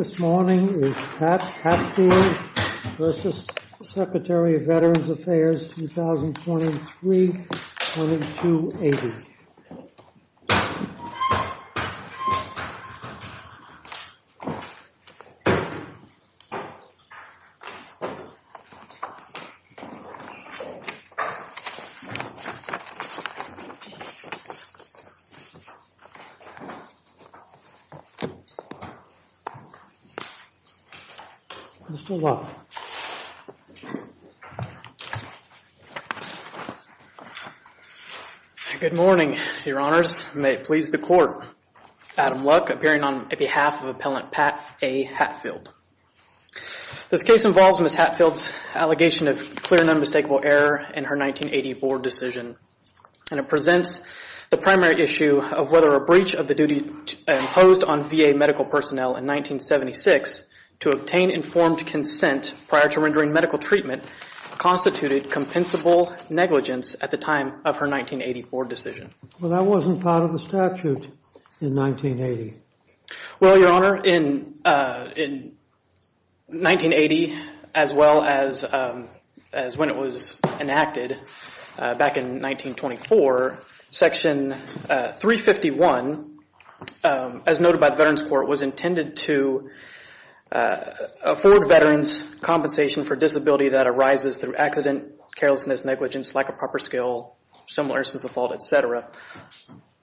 This morning is Pat Hatfield v. Secretary of Veterans Affairs, 2023-2280. Mr. Luck. Good morning, your honors. May it please the court. Adam Luck, appearing on behalf of Appellant Pat A. Hatfield. This case involves Ms. Hatfield's allegation of clear and unmistakable error in her 1980 board decision. And it presents the primary issue of whether a breach of the duty imposed on VA medical personnel in 1976 to obtain informed consent prior to rendering medical treatment constituted compensable negligence at the time of her 1980 board decision. Well, that wasn't part of the statute in 1980. Well, your honor, in 1980, as well as when it was enacted back in 1924, Section 351, as noted by the Veterans Court, was intended to afford veterans compensation for disability that arises through accident, carelessness, negligence, lack of proper skill, similar sense of fault, etc.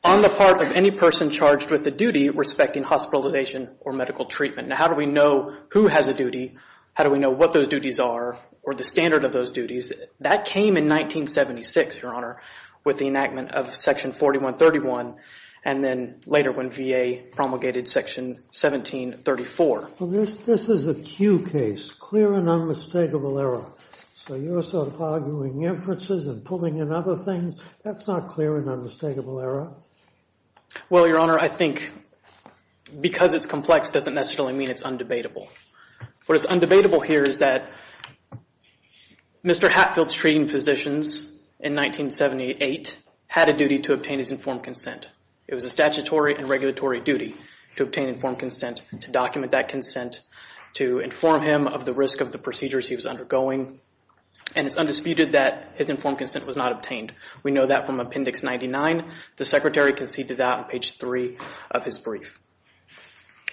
on the part of any person charged with a duty respecting hospitalization or medical treatment. Now, how do we know who has a duty? How do we know what those duties are or the standard of those duties? That came in 1976, your honor, with the enactment of Section 4131, and then later when VA promulgated Section 1734. Well, this is a Q case, clear and unmistakable error. So you're sort of arguing inferences and pulling in other things. That's not clear and unmistakable error. Well, your honor, I think because it's complex doesn't necessarily mean it's undebatable. What is undebatable here is that Mr. Hatfield's treating physicians in 1978 had a duty to obtain his informed consent. It was a statutory and regulatory duty to obtain informed consent, to document that consent, to inform him of the risk of the procedures he was undergoing. And it's undisputed that his informed consent was not obtained. We know that from Appendix 99. The Secretary conceded that on page 3 of his brief.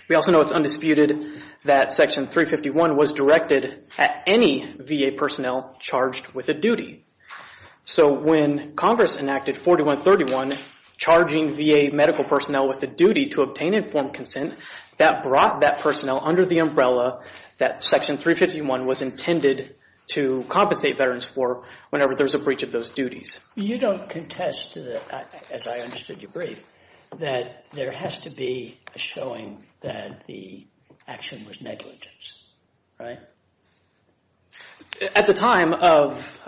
We also know it's undisputed that Section 351 was directed at any VA personnel charged with a duty. So when Congress enacted 4131, charging VA medical personnel with a duty to obtain informed consent, that brought that personnel under the umbrella that Section 351 was intended to compensate veterans for whenever there's a breach of those duties. You don't contest, as I understood your brief, that there has to be a showing that the action was negligence, right? At the time of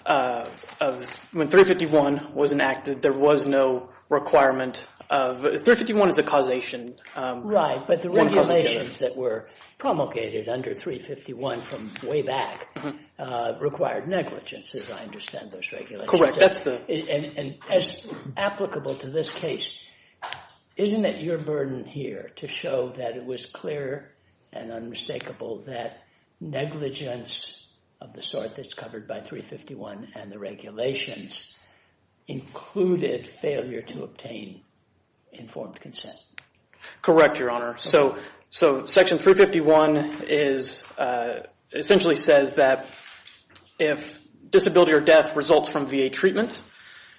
when 351 was enacted, there was no requirement of – 351 is a causation. Right, but the regulations that were promulgated under 351 from way back required negligence, as I understand those regulations. Correct. That's the – And as applicable to this case, isn't it your burden here to show that it was clear and unmistakable that negligence of the sort that's covered by 351 and the regulations included failure to obtain informed consent? Correct, Your Honor. So Section 351 is – essentially says that if disability or death results from VA treatment,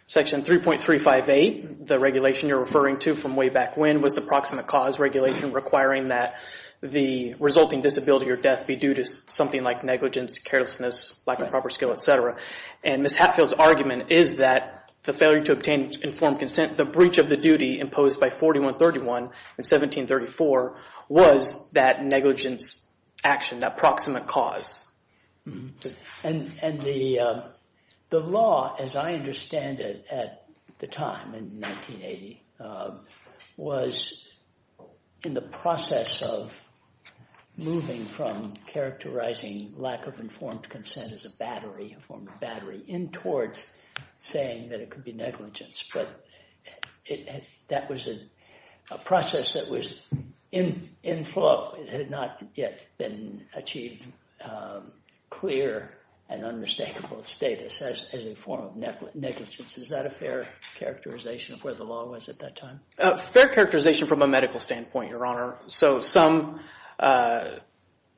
Section 3.358, the regulation you're referring to from way back when, was the proximate cause regulation requiring that the resulting disability or death be due to something like negligence, carelessness, lack of proper skill, et cetera. And Ms. Hatfield's argument is that the failure to obtain informed consent, the breach of the duty imposed by 4131 and 1734 was that negligence action, that proximate cause. And the law, as I understand it at the time in 1980, was in the process of moving from characterizing lack of informed consent as a form of battery in towards saying that it could be negligence. But that was a process that was in flow. It had not yet been achieved clear and unmistakable status as a form of negligence. Is that a fair characterization of where the law was at that time? A fair characterization from a medical standpoint, Your Honor. So some – I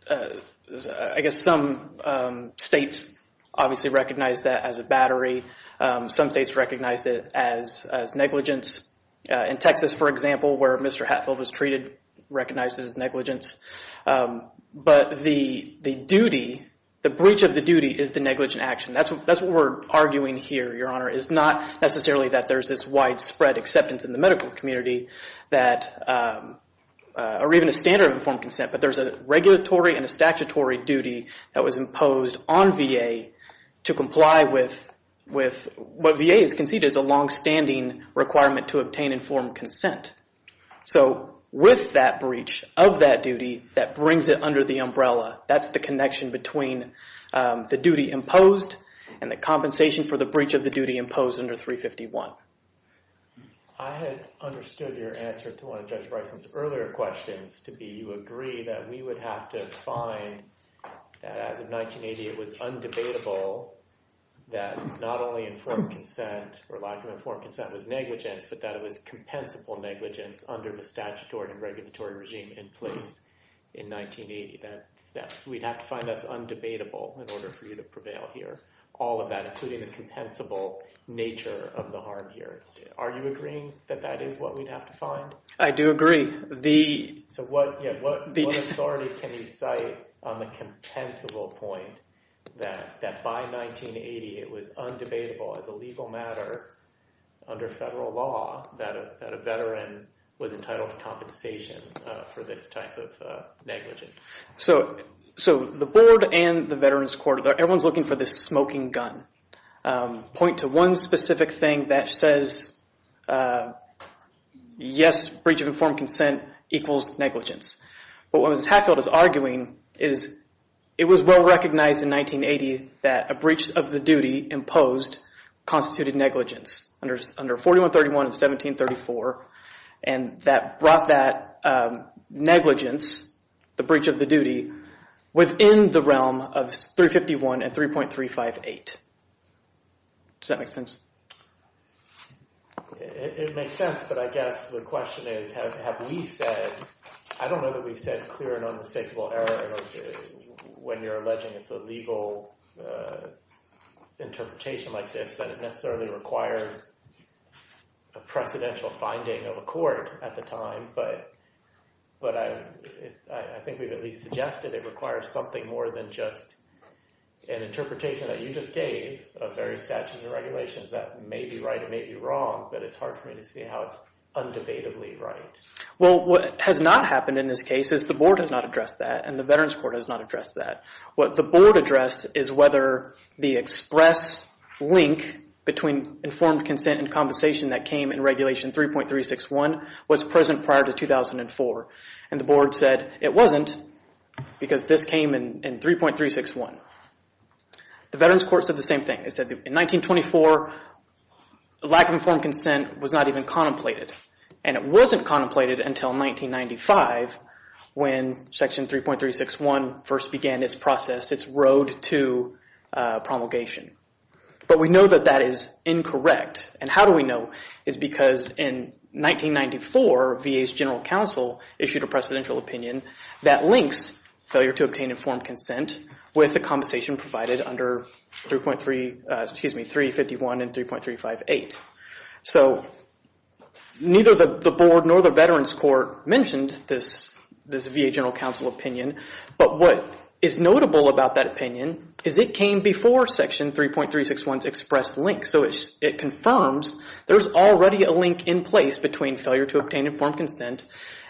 guess some states obviously recognized that as a battery. Some states recognized it as negligence. In Texas, for example, where Mr. Hatfield was treated, recognized it as negligence. But the duty, the breach of the duty is the negligent action. That's what we're arguing here, Your Honor, is not necessarily that there's this widespread acceptance in the medical community that – or even a standard of informed consent. But there's a regulatory and a statutory duty that was imposed on VA to comply with what VA has conceded is a longstanding requirement to obtain informed consent. So with that breach of that duty, that brings it under the umbrella. That's the connection between the duty imposed and the compensation for the breach of the duty imposed under 351. I had understood your answer to one of Judge Bryson's earlier questions to be you agree that we would have to find that as of 1980 it was undebatable that not only informed consent or lack of informed consent was negligence but that it was compensable negligence under the statutory and regulatory regime in place in 1980. That we'd have to find that's undebatable in order for you to prevail here. All of that including the compensable nature of the harm here. Are you agreeing that that is what we'd have to find? I do agree. So what authority can you cite on the compensable point that by 1980 it was undebatable as a legal matter under federal law that a veteran was entitled to compensation for this type of negligence? So the board and the Veterans Court, everyone's looking for this smoking gun. Point to one specific thing that says yes, breach of informed consent equals negligence. But what Hatfield is arguing is it was well recognized in 1980 that a breach of the duty imposed constituted negligence under 4131 and 1734. And that brought that negligence, the breach of the duty, within the realm of 351 and 3.358. Does that make sense? It makes sense, but I guess the question is have we said, I don't know that we've said clear and unmistakable error when you're alleging it's a legal interpretation like this that it necessarily requires a precedential finding of a court at the time. But I think we've at least suggested it requires something more than just an interpretation that you just gave of various statutes and regulations that may be right, it may be wrong, but it's hard for me to see how it's undebatably right. Well, what has not happened in this case is the Board has not addressed that and the Veterans Court has not addressed that. What the Board addressed is whether the express link between informed consent and compensation that came in Regulation 3.361 was present prior to 2004. And the Board said it wasn't because this came in 3.361. The Veterans Court said the same thing. It said that in 1924, lack of informed consent was not even contemplated. And it wasn't contemplated until 1995 when Section 3.361 first began its process, its road to promulgation. But we know that that is incorrect. And how do we know? It's because in 1994, VA's General Counsel issued a precedential opinion that links failure to obtain informed consent with the compensation provided under 3.3, excuse me, 351 and 3.358. So neither the Board nor the Veterans Court mentioned this VA General Counsel opinion. But what is notable about that opinion is it came before Section 3.361's express link. So it confirms there's already a link in place between failure to obtain informed consent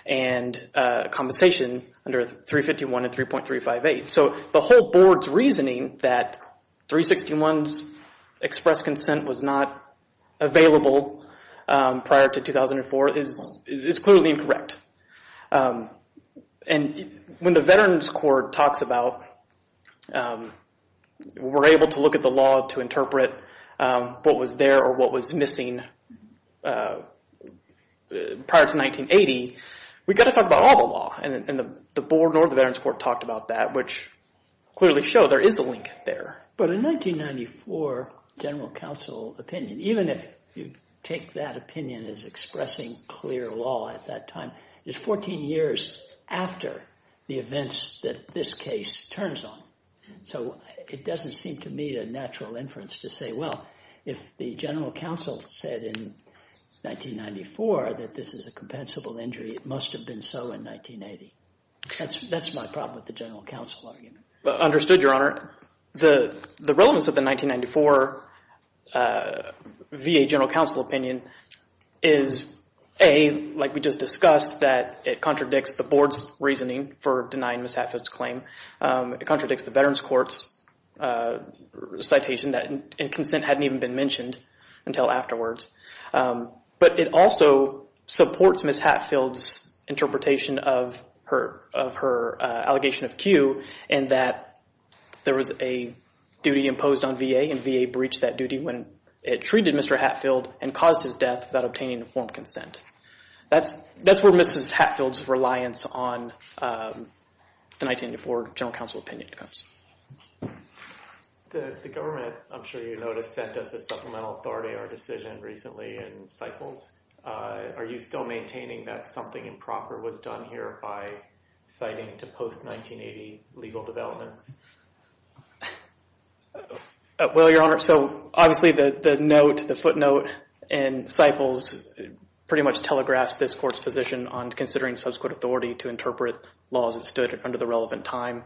and compensation under 351 and 3.358. So the whole Board's reasoning that 3.361's express consent was not available prior to 2004 is clearly incorrect. And when the Veterans Court talks about we're able to look at the law to interpret what was there or what was missing prior to 1980, we've got to talk about all the law. And the Board nor the Veterans Court talked about that, which clearly showed there is a link there. But a 1994 General Counsel opinion, even if you take that opinion as expressing clear law at that time, is 14 years after the events that this case turns on. So it doesn't seem to me a natural inference to say, well, if the General Counsel said in 1994 that this is a compensable injury, it must have been so in 1980. That's my problem with the General Counsel argument. Understood, Your Honor. The relevance of the 1994 VA General Counsel opinion is, A, like we just discussed, that it contradicts the Board's reasoning for denying Ms. Hatfield's claim. It contradicts the Veterans Court's citation that consent hadn't even been mentioned until afterwards. But it also supports Ms. Hatfield's interpretation of her allegation of Q in that there was a duty imposed on VA and VA breached that duty when it treated Mr. Hatfield and caused his death without obtaining informed consent. That's where Ms. Hatfield's reliance on the 1994 General Counsel opinion comes. The government, I'm sure you noticed, sent us the supplemental authority or decision recently in Cyphers. Are you still maintaining that something improper was done here by citing to post-1980 legal developments? Well, Your Honor, so obviously the footnote in Cyphers pretty much telegraphs this court's position on considering subsequent authority to interpret laws that stood under the relevant time.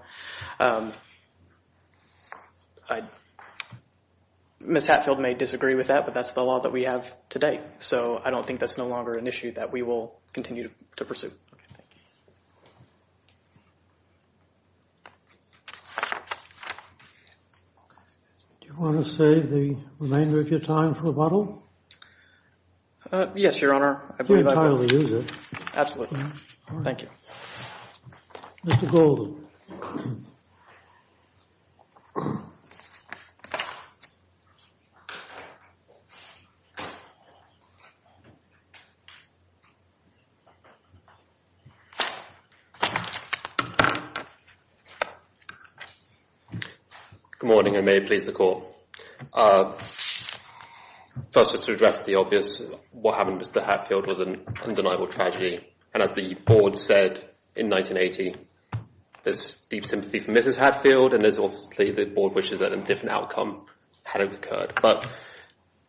Ms. Hatfield may disagree with that, but that's the law that we have today. So I don't think that's no longer an issue that we will continue to pursue. Do you want to save the remainder of your time for a bottle? Yes, Your Honor. I believe I will use it. Absolutely. Thank you. Mr. Golden. Good morning, and may it please the Court. First, just to address the obvious, what happened with Mr. Hatfield was an undeniable tragedy. And as the Board said in 1980, there's deep sympathy for Mrs. Hatfield, and there's obviously the Board wishes that a different outcome had occurred. But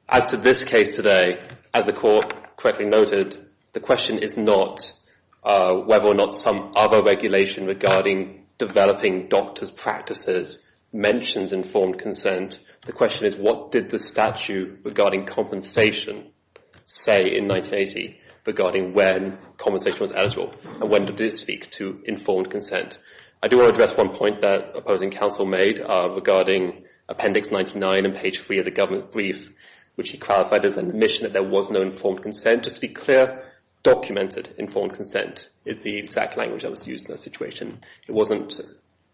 as to this case today, as the Court correctly noted, the question is not whether or not some other regulation regarding developing doctor's practices mentions informed consent. The question is, what did the statute regarding compensation say in 1980 regarding when compensation was eligible, and when did it speak to informed consent? I do want to address one point that opposing counsel made regarding Appendix 99 and page 3 of the government brief, which he qualified as an admission that there was no informed consent. Just to be clear, documented informed consent is the exact language that was used in that situation. It wasn't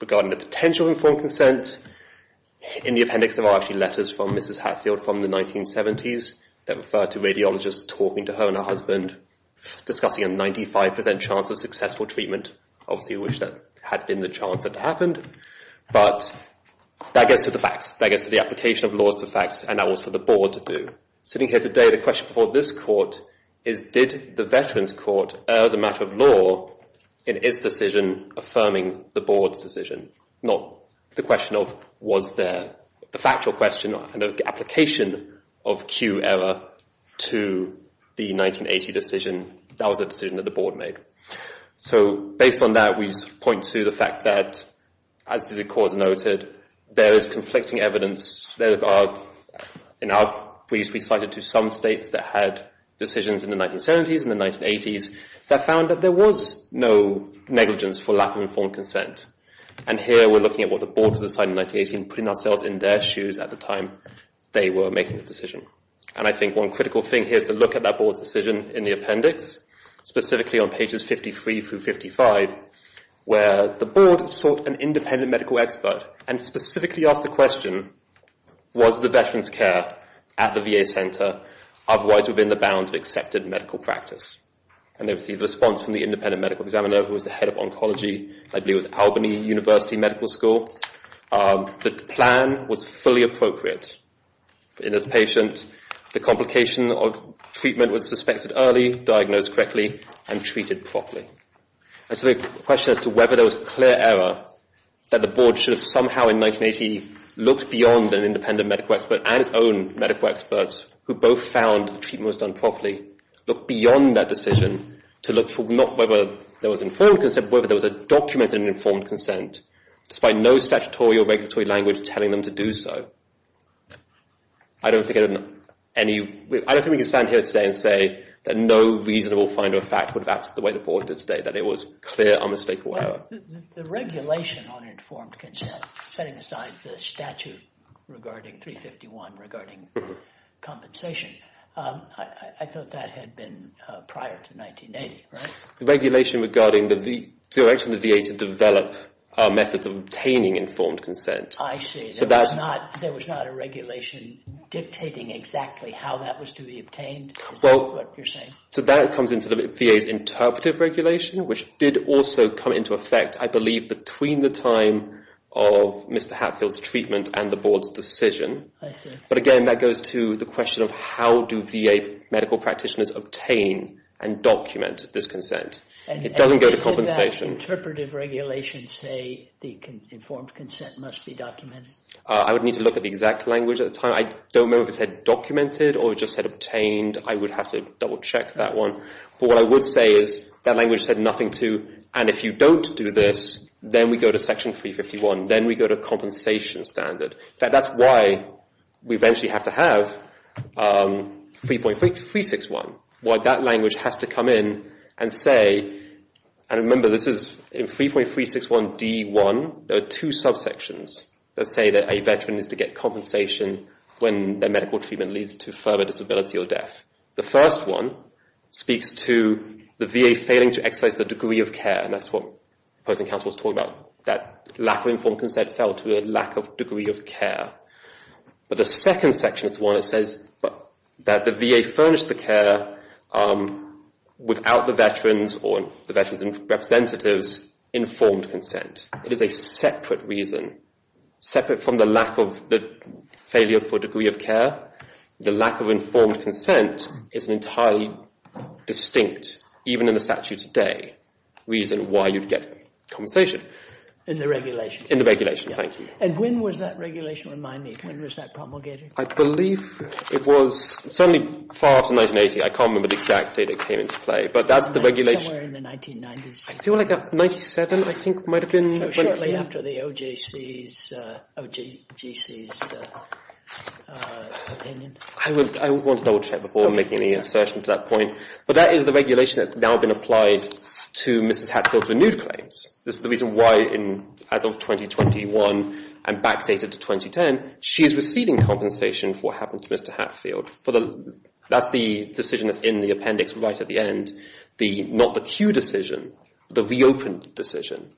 regarding the potential informed consent. In the appendix, there are actually letters from Mrs. Hatfield from the 1970s that refer to radiologists talking to her and her husband, discussing a 95% chance of successful treatment. Obviously, we wish that had been the chance that it happened. But that gets to the facts. That gets to the application of laws to facts. And that was for the Board to do. Sitting here today, the question before this Court is, did the Veterans Court err as a matter of law in its decision affirming the Board's decision? Not the question of was there a factual question, but an application of Q error to the 1980 decision. That was a decision that the Board made. Based on that, we point to the fact that, as the Court noted, there is conflicting evidence. In our briefs, we cited some states that had decisions in the 1970s and the 1980s that found that there was no negligence for lack of informed consent. And here, we're looking at what the Board decided in 1918, putting ourselves in their shoes at the time they were making the decision. And I think one critical thing here is to look at that Board's decision in the appendix, specifically on pages 53 through 55, where the Board sought an independent medical expert and specifically asked the question, was the Veterans' care at the VA center otherwise within the bounds of accepted medical practice? And they received a response from the independent medical examiner, who was the head of oncology, I believe it was Albany University Medical School. The plan was fully appropriate in this patient. The complication of treatment was suspected early, diagnosed correctly, and treated properly. And so the question as to whether there was clear error, that the Board should have somehow in 1980 looked beyond an independent medical expert and its own medical experts, who both found the treatment was done properly, look beyond that decision to look for not whether there was informed consent, but whether there was a document in informed consent, despite no statutory or regulatory language telling them to do so. I don't think we can stand here today and say that no reasonable find or fact would have acted the way the Board did today, that it was clear, unmistakable error. The regulation on informed consent, setting aside the statute regarding 351, regarding compensation, I thought that had been prior to 1980, right? The regulation regarding the direction of the VA to develop methods of obtaining informed consent. I see. There was not a regulation dictating exactly how that was to be obtained? Is that what you're saying? So that comes into the VA's interpretive regulation, which did also come into effect, I believe, between the time of Mr. Hatfield's treatment and the Board's decision. I see. But again, that goes to the question of how do VA medical practitioners obtain and document this consent? It doesn't go to compensation. And would that interpretive regulation say the informed consent must be documented? I would need to look at the exact language at the time. I don't remember if it said documented or it just said obtained. I would have to double-check that one. But what I would say is that language said nothing to, and if you don't do this, then we go to Section 351. Then we go to compensation standard. In fact, that's why we eventually have to have 3.361, why that language has to come in and say, and remember this is in 3.361 D1, there are two subsections that say that a veteran is to get compensation when their medical treatment leads to further disability or death. The first one speaks to the VA failing to exercise the degree of care, and that's what the opposing counsel was talking about, that lack of informed consent fell to a lack of degree of care. But the second section is the one that says that the VA furnished the care without the veterans or the veterans' representatives' informed consent. It is a separate reason, separate from the lack of the failure for degree of care. The lack of informed consent is an entirely distinct, even in the statute today, reason why you'd get compensation. In the regulation. In the regulation, thank you. And when was that regulation? Remind me, when was that promulgated? I believe it was certainly far after 1980. I can't remember the exact date it came into play, but that's the regulation. Somewhere in the 1990s. I feel like 1997, I think, might have been. Shortly after the OJC's opinion. I want to double check before making any assertion to that point. But that is the regulation that's now been applied to Mrs. Hatfield's renewed claims. This is the reason why, as of 2021 and backdated to 2010, she is receiving compensation for what happened to Mr. Hatfield. That's the decision that's in the appendix right at the end. Not the Q decision, the reopened decision.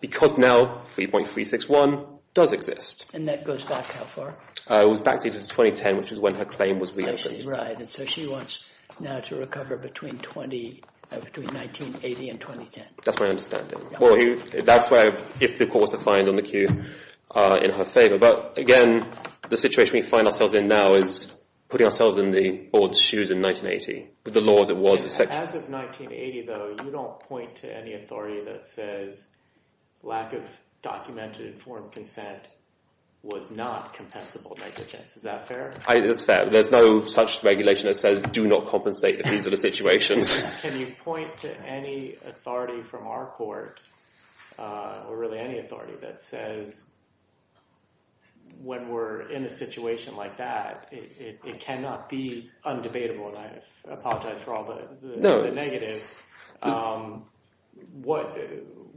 Because now 3.361 does exist. And that goes back how far? It was backdated to 2010, which was when her claim was reopened. Right, and so she wants now to recover between 1980 and 2010. That's my understanding. That's where, if the court was to find on the Q, in her favor. But, again, the situation we find ourselves in now is putting ourselves in the board's shoes in 1980. As of 1980, though, you don't point to any authority that says lack of documented informed consent was not compensable negligence. Is that fair? That's fair. There's no such regulation that says do not compensate if these are the situations. Can you point to any authority from our court, or really any authority, that says when we're in a situation like that, it cannot be undebatable, and I apologize for all the negatives.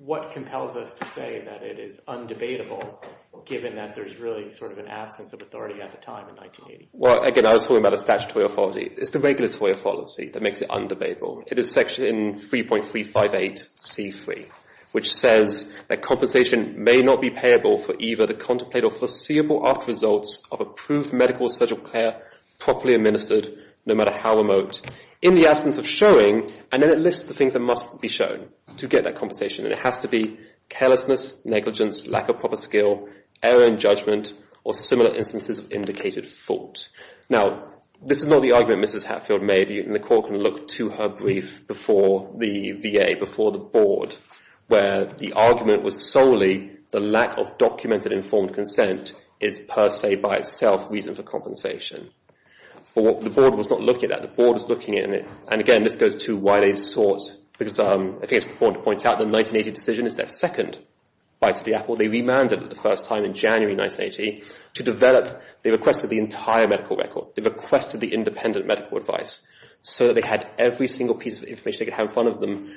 What compels us to say that it is undebatable, given that there's really sort of an absence of authority at the time in 1980? Well, again, I was talking about a statutory authority. It's the regulatory authority that makes it undebatable. It is section 3.358c3, which says that compensation may not be payable for either the contemplated or foreseeable after results of approved medical or surgical care properly administered, no matter how remote, in the absence of showing, and then it lists the things that must be shown to get that compensation, and it has to be carelessness, negligence, lack of proper skill, error in judgment, or similar instances of indicated fault. Now, this is not the argument Mrs. Hatfield made, and the court can look to her brief before the VA, before the board, where the argument was solely the lack of documented informed consent is per se, by itself, reason for compensation. But the board was not looking at that. The board was looking at it, and again, this goes to why they sought, because I think it's important to point out the 1980 decision is their second bite of the apple. They remanded it the first time in January 1980 to develop. They requested the entire medical record. They requested the independent medical advice, so that they had every single piece of information they could have in front of them,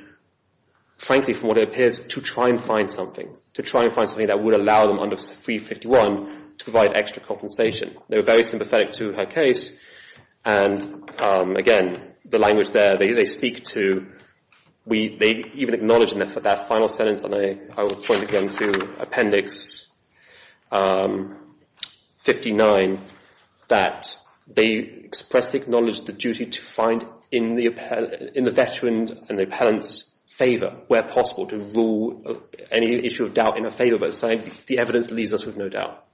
frankly, from what it appears, to try and find something, to try and find something that would allow them under 351 to provide extra compensation. They were very sympathetic to her case, and again, the language there, they speak to, they even acknowledge in that final sentence, and I will point again to Appendix 59, that they expressly acknowledge the duty to find in the veteran and the appellant's favor, where possible, to rule any issue of doubt in her favor, but the evidence leaves us with no doubt.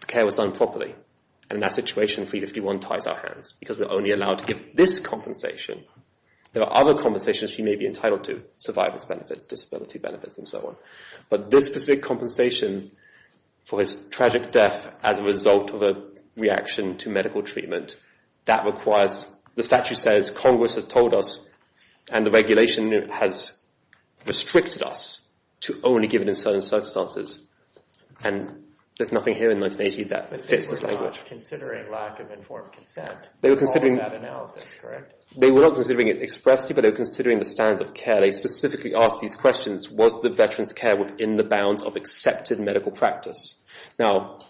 The care was done properly, and in that situation, 351 ties our hands, because we're only allowed to give this compensation. There are other compensations she may be entitled to, survivor's benefits, disability benefits, and so on. But this specific compensation for his tragic death as a result of a reaction to medical treatment, that requires, the statute says, Congress has told us, and the regulation has restricted us to only give it in certain circumstances, and there's nothing here in 1980 that fits this language. They were not considering lack of informed consent in that analysis, correct? They were not considering it expressly, but they were considering the standard of care. And they specifically asked these questions, was the veteran's care within the bounds of accepted medical practice? Now,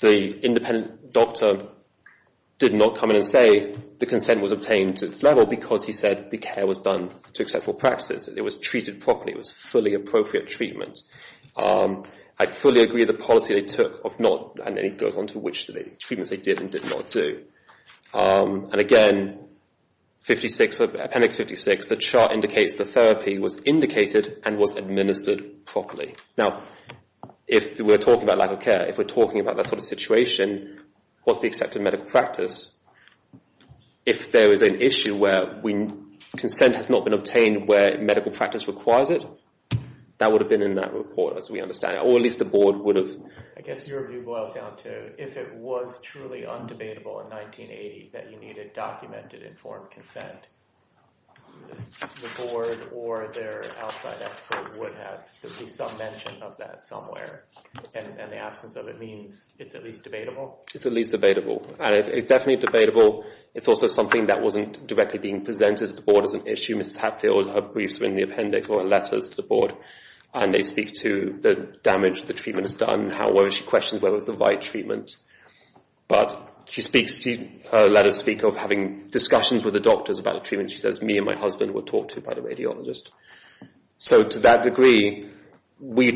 the independent doctor did not come in and say the consent was obtained to its level, because he said the care was done to acceptable practice. It was treated properly. It was fully appropriate treatment. I fully agree with the policy they took, if not, and then it goes on to which treatments they did and did not do. And again, appendix 56, the chart indicates the therapy was indicated and was administered properly. Now, if we're talking about lack of care, if we're talking about that sort of situation, what's the accepted medical practice? If there is an issue where consent has not been obtained where medical practice requires it, that would have been in that report, as we understand it, or at least the board would have. I guess your view boils down to if it was truly undebatable in 1980 that you needed documented, informed consent, the board or their outside expert would have at least some mention of that somewhere, and the absence of it means it's at least debatable? It's at least debatable, and it's definitely debatable. It's also something that wasn't directly being presented to the board as an issue. Mrs. Hatfield, her briefs were in the appendix or her letters to the board, and they speak to the damage the treatment has done, whether she questioned whether it was the right treatment. But her letters speak of having discussions with the doctors about the treatment. She says, me and my husband were talked to by the radiologist. So to that degree, where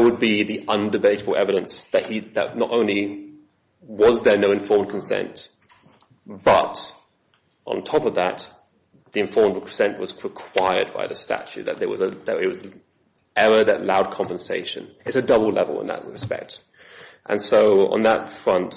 would be the undebatable evidence that not only was there no informed consent, but on top of that, the informed consent was required by the statute, that there was an error that allowed compensation. It's a double level in that respect. And so on that front,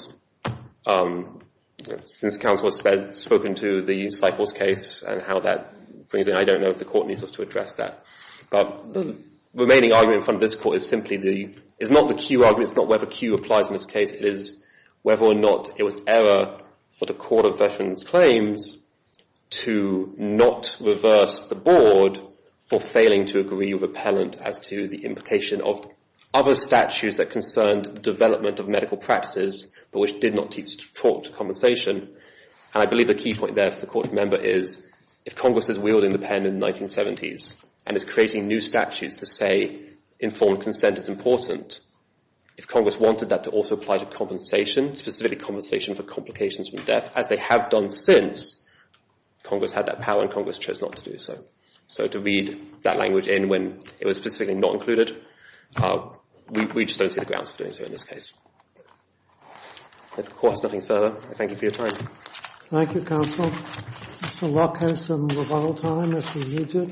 since counsel has spoken to the Cyprus case and how that brings it, I don't know if the court needs us to address that. But the remaining argument in front of this court is simply the, it's not the Q argument, it's not whether Q applies in this case. It is whether or not it was error for the Court of Veterans Claims to not reverse the board for failing to agree repellent as to the implication of other statutes that concerned development of medical practices, but which did not teach talk to compensation. And I believe the key point there for the court member is, if Congress is wielding the pen in the 1970s and is creating new statutes to say informed consent is important, if Congress wanted that to also apply to compensation, specifically compensation for complications from death, as they have done since, Congress had that power and Congress chose not to do so. So to read that language in when it was specifically not included, we just don't see the grounds for doing so in this case. If the court has nothing further, I thank you for your time. Thank you, Counsel. Mr. Luck has some rebuttal time if he needs it.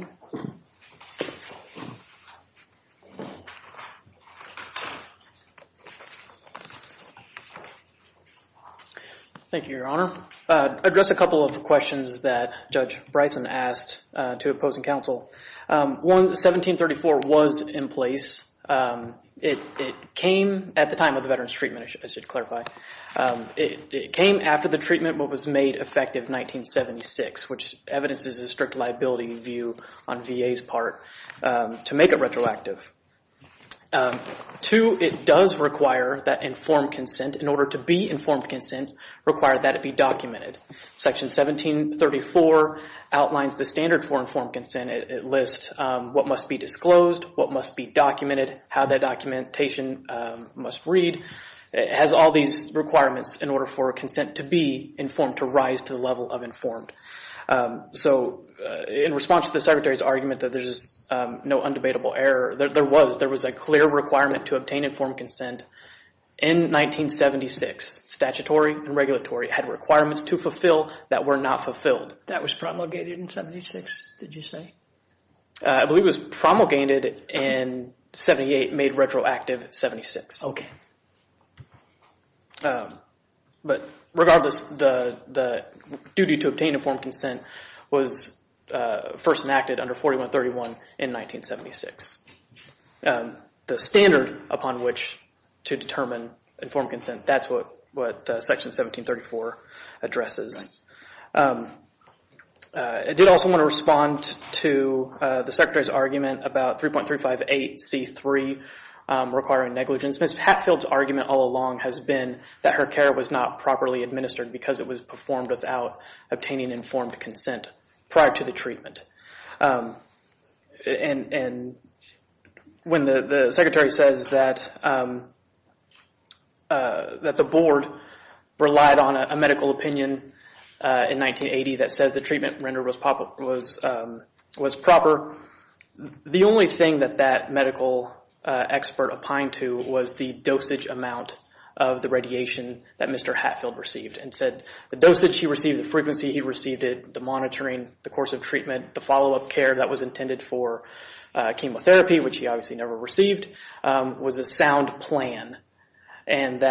Thank you, Your Honor. Address a couple of questions that Judge Bryson asked to opposing counsel. One, 1734 was in place. It came at the time of the Veterans Treatment, I should clarify. It came after the treatment but was made effective in 1976, which evidences a strict liability view on VA's part to make it retroactive. Two, it does require that informed consent, in order to be informed consent, require that it be documented. Section 1734 outlines the standard for informed consent. It lists what must be disclosed, what must be documented, how that documentation must read. It has all these requirements in order for consent to be informed, to rise to the level of informed. So in response to the Secretary's argument that there's no undebatable error, there was a clear requirement to obtain informed consent in 1976. Statutory and regulatory had requirements to fulfill that were not fulfilled. That was promulgated in 76, did you say? I believe it was promulgated in 78, made retroactive in 76. Okay. But regardless, the duty to obtain informed consent was first enacted under 4131 in 1976. The standard upon which to determine informed consent, that's what Section 1734 addresses. I did also want to respond to the Secretary's argument about 3.358C3 requiring negligence. Ms. Hatfield's argument all along has been that her care was not properly administered because it was performed without obtaining informed consent prior to the treatment. And when the Secretary says that the Board relied on a medical opinion in 1980 that said the treatment rendered was proper, the only thing that that medical expert opined to was the dosage amount of the radiation that Mr. Hatfield received and said the dosage he received, the frequency he received it, the monitoring, the course of treatment, the follow-up care that was intended for chemotherapy, which he obviously never received, was a sound plan. And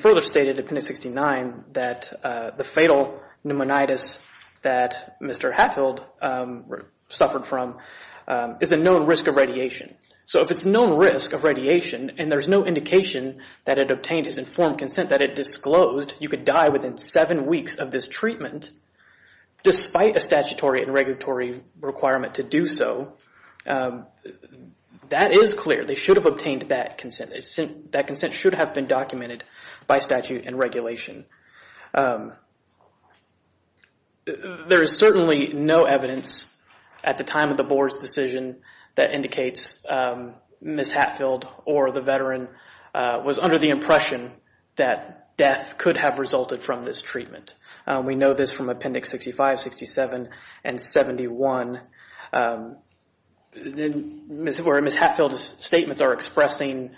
further stated in appendix 69 that the fatal pneumonitis that Mr. Hatfield suffered from is a known risk of radiation. So if it's a known risk of radiation and there's no indication that it obtained his informed consent, that it disclosed you could die within seven weeks of this treatment, despite a statutory and regulatory requirement to do so, that is clear. They should have obtained that consent. That consent should have been documented by statute and regulation. There is certainly no evidence at the time of the Board's decision that indicates Ms. Hatfield or the veteran was under the impression that death could have resulted from this treatment. We know this from appendix 65, 67, and 71, where Ms. Hatfield's statements are expressing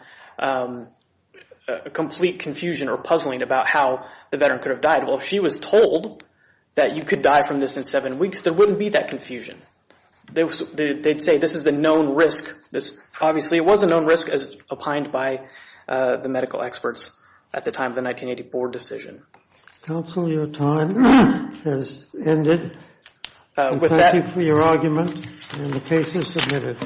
complete confusion or puzzling about how the veteran could have died. Well, if she was told that you could die from this in seven weeks, there wouldn't be that confusion. They'd say this is a known risk. This obviously was a known risk as opined by the medical experts at the time of the 1984 decision. Counsel, your time has ended. Thank you for your argument, and the case is submitted.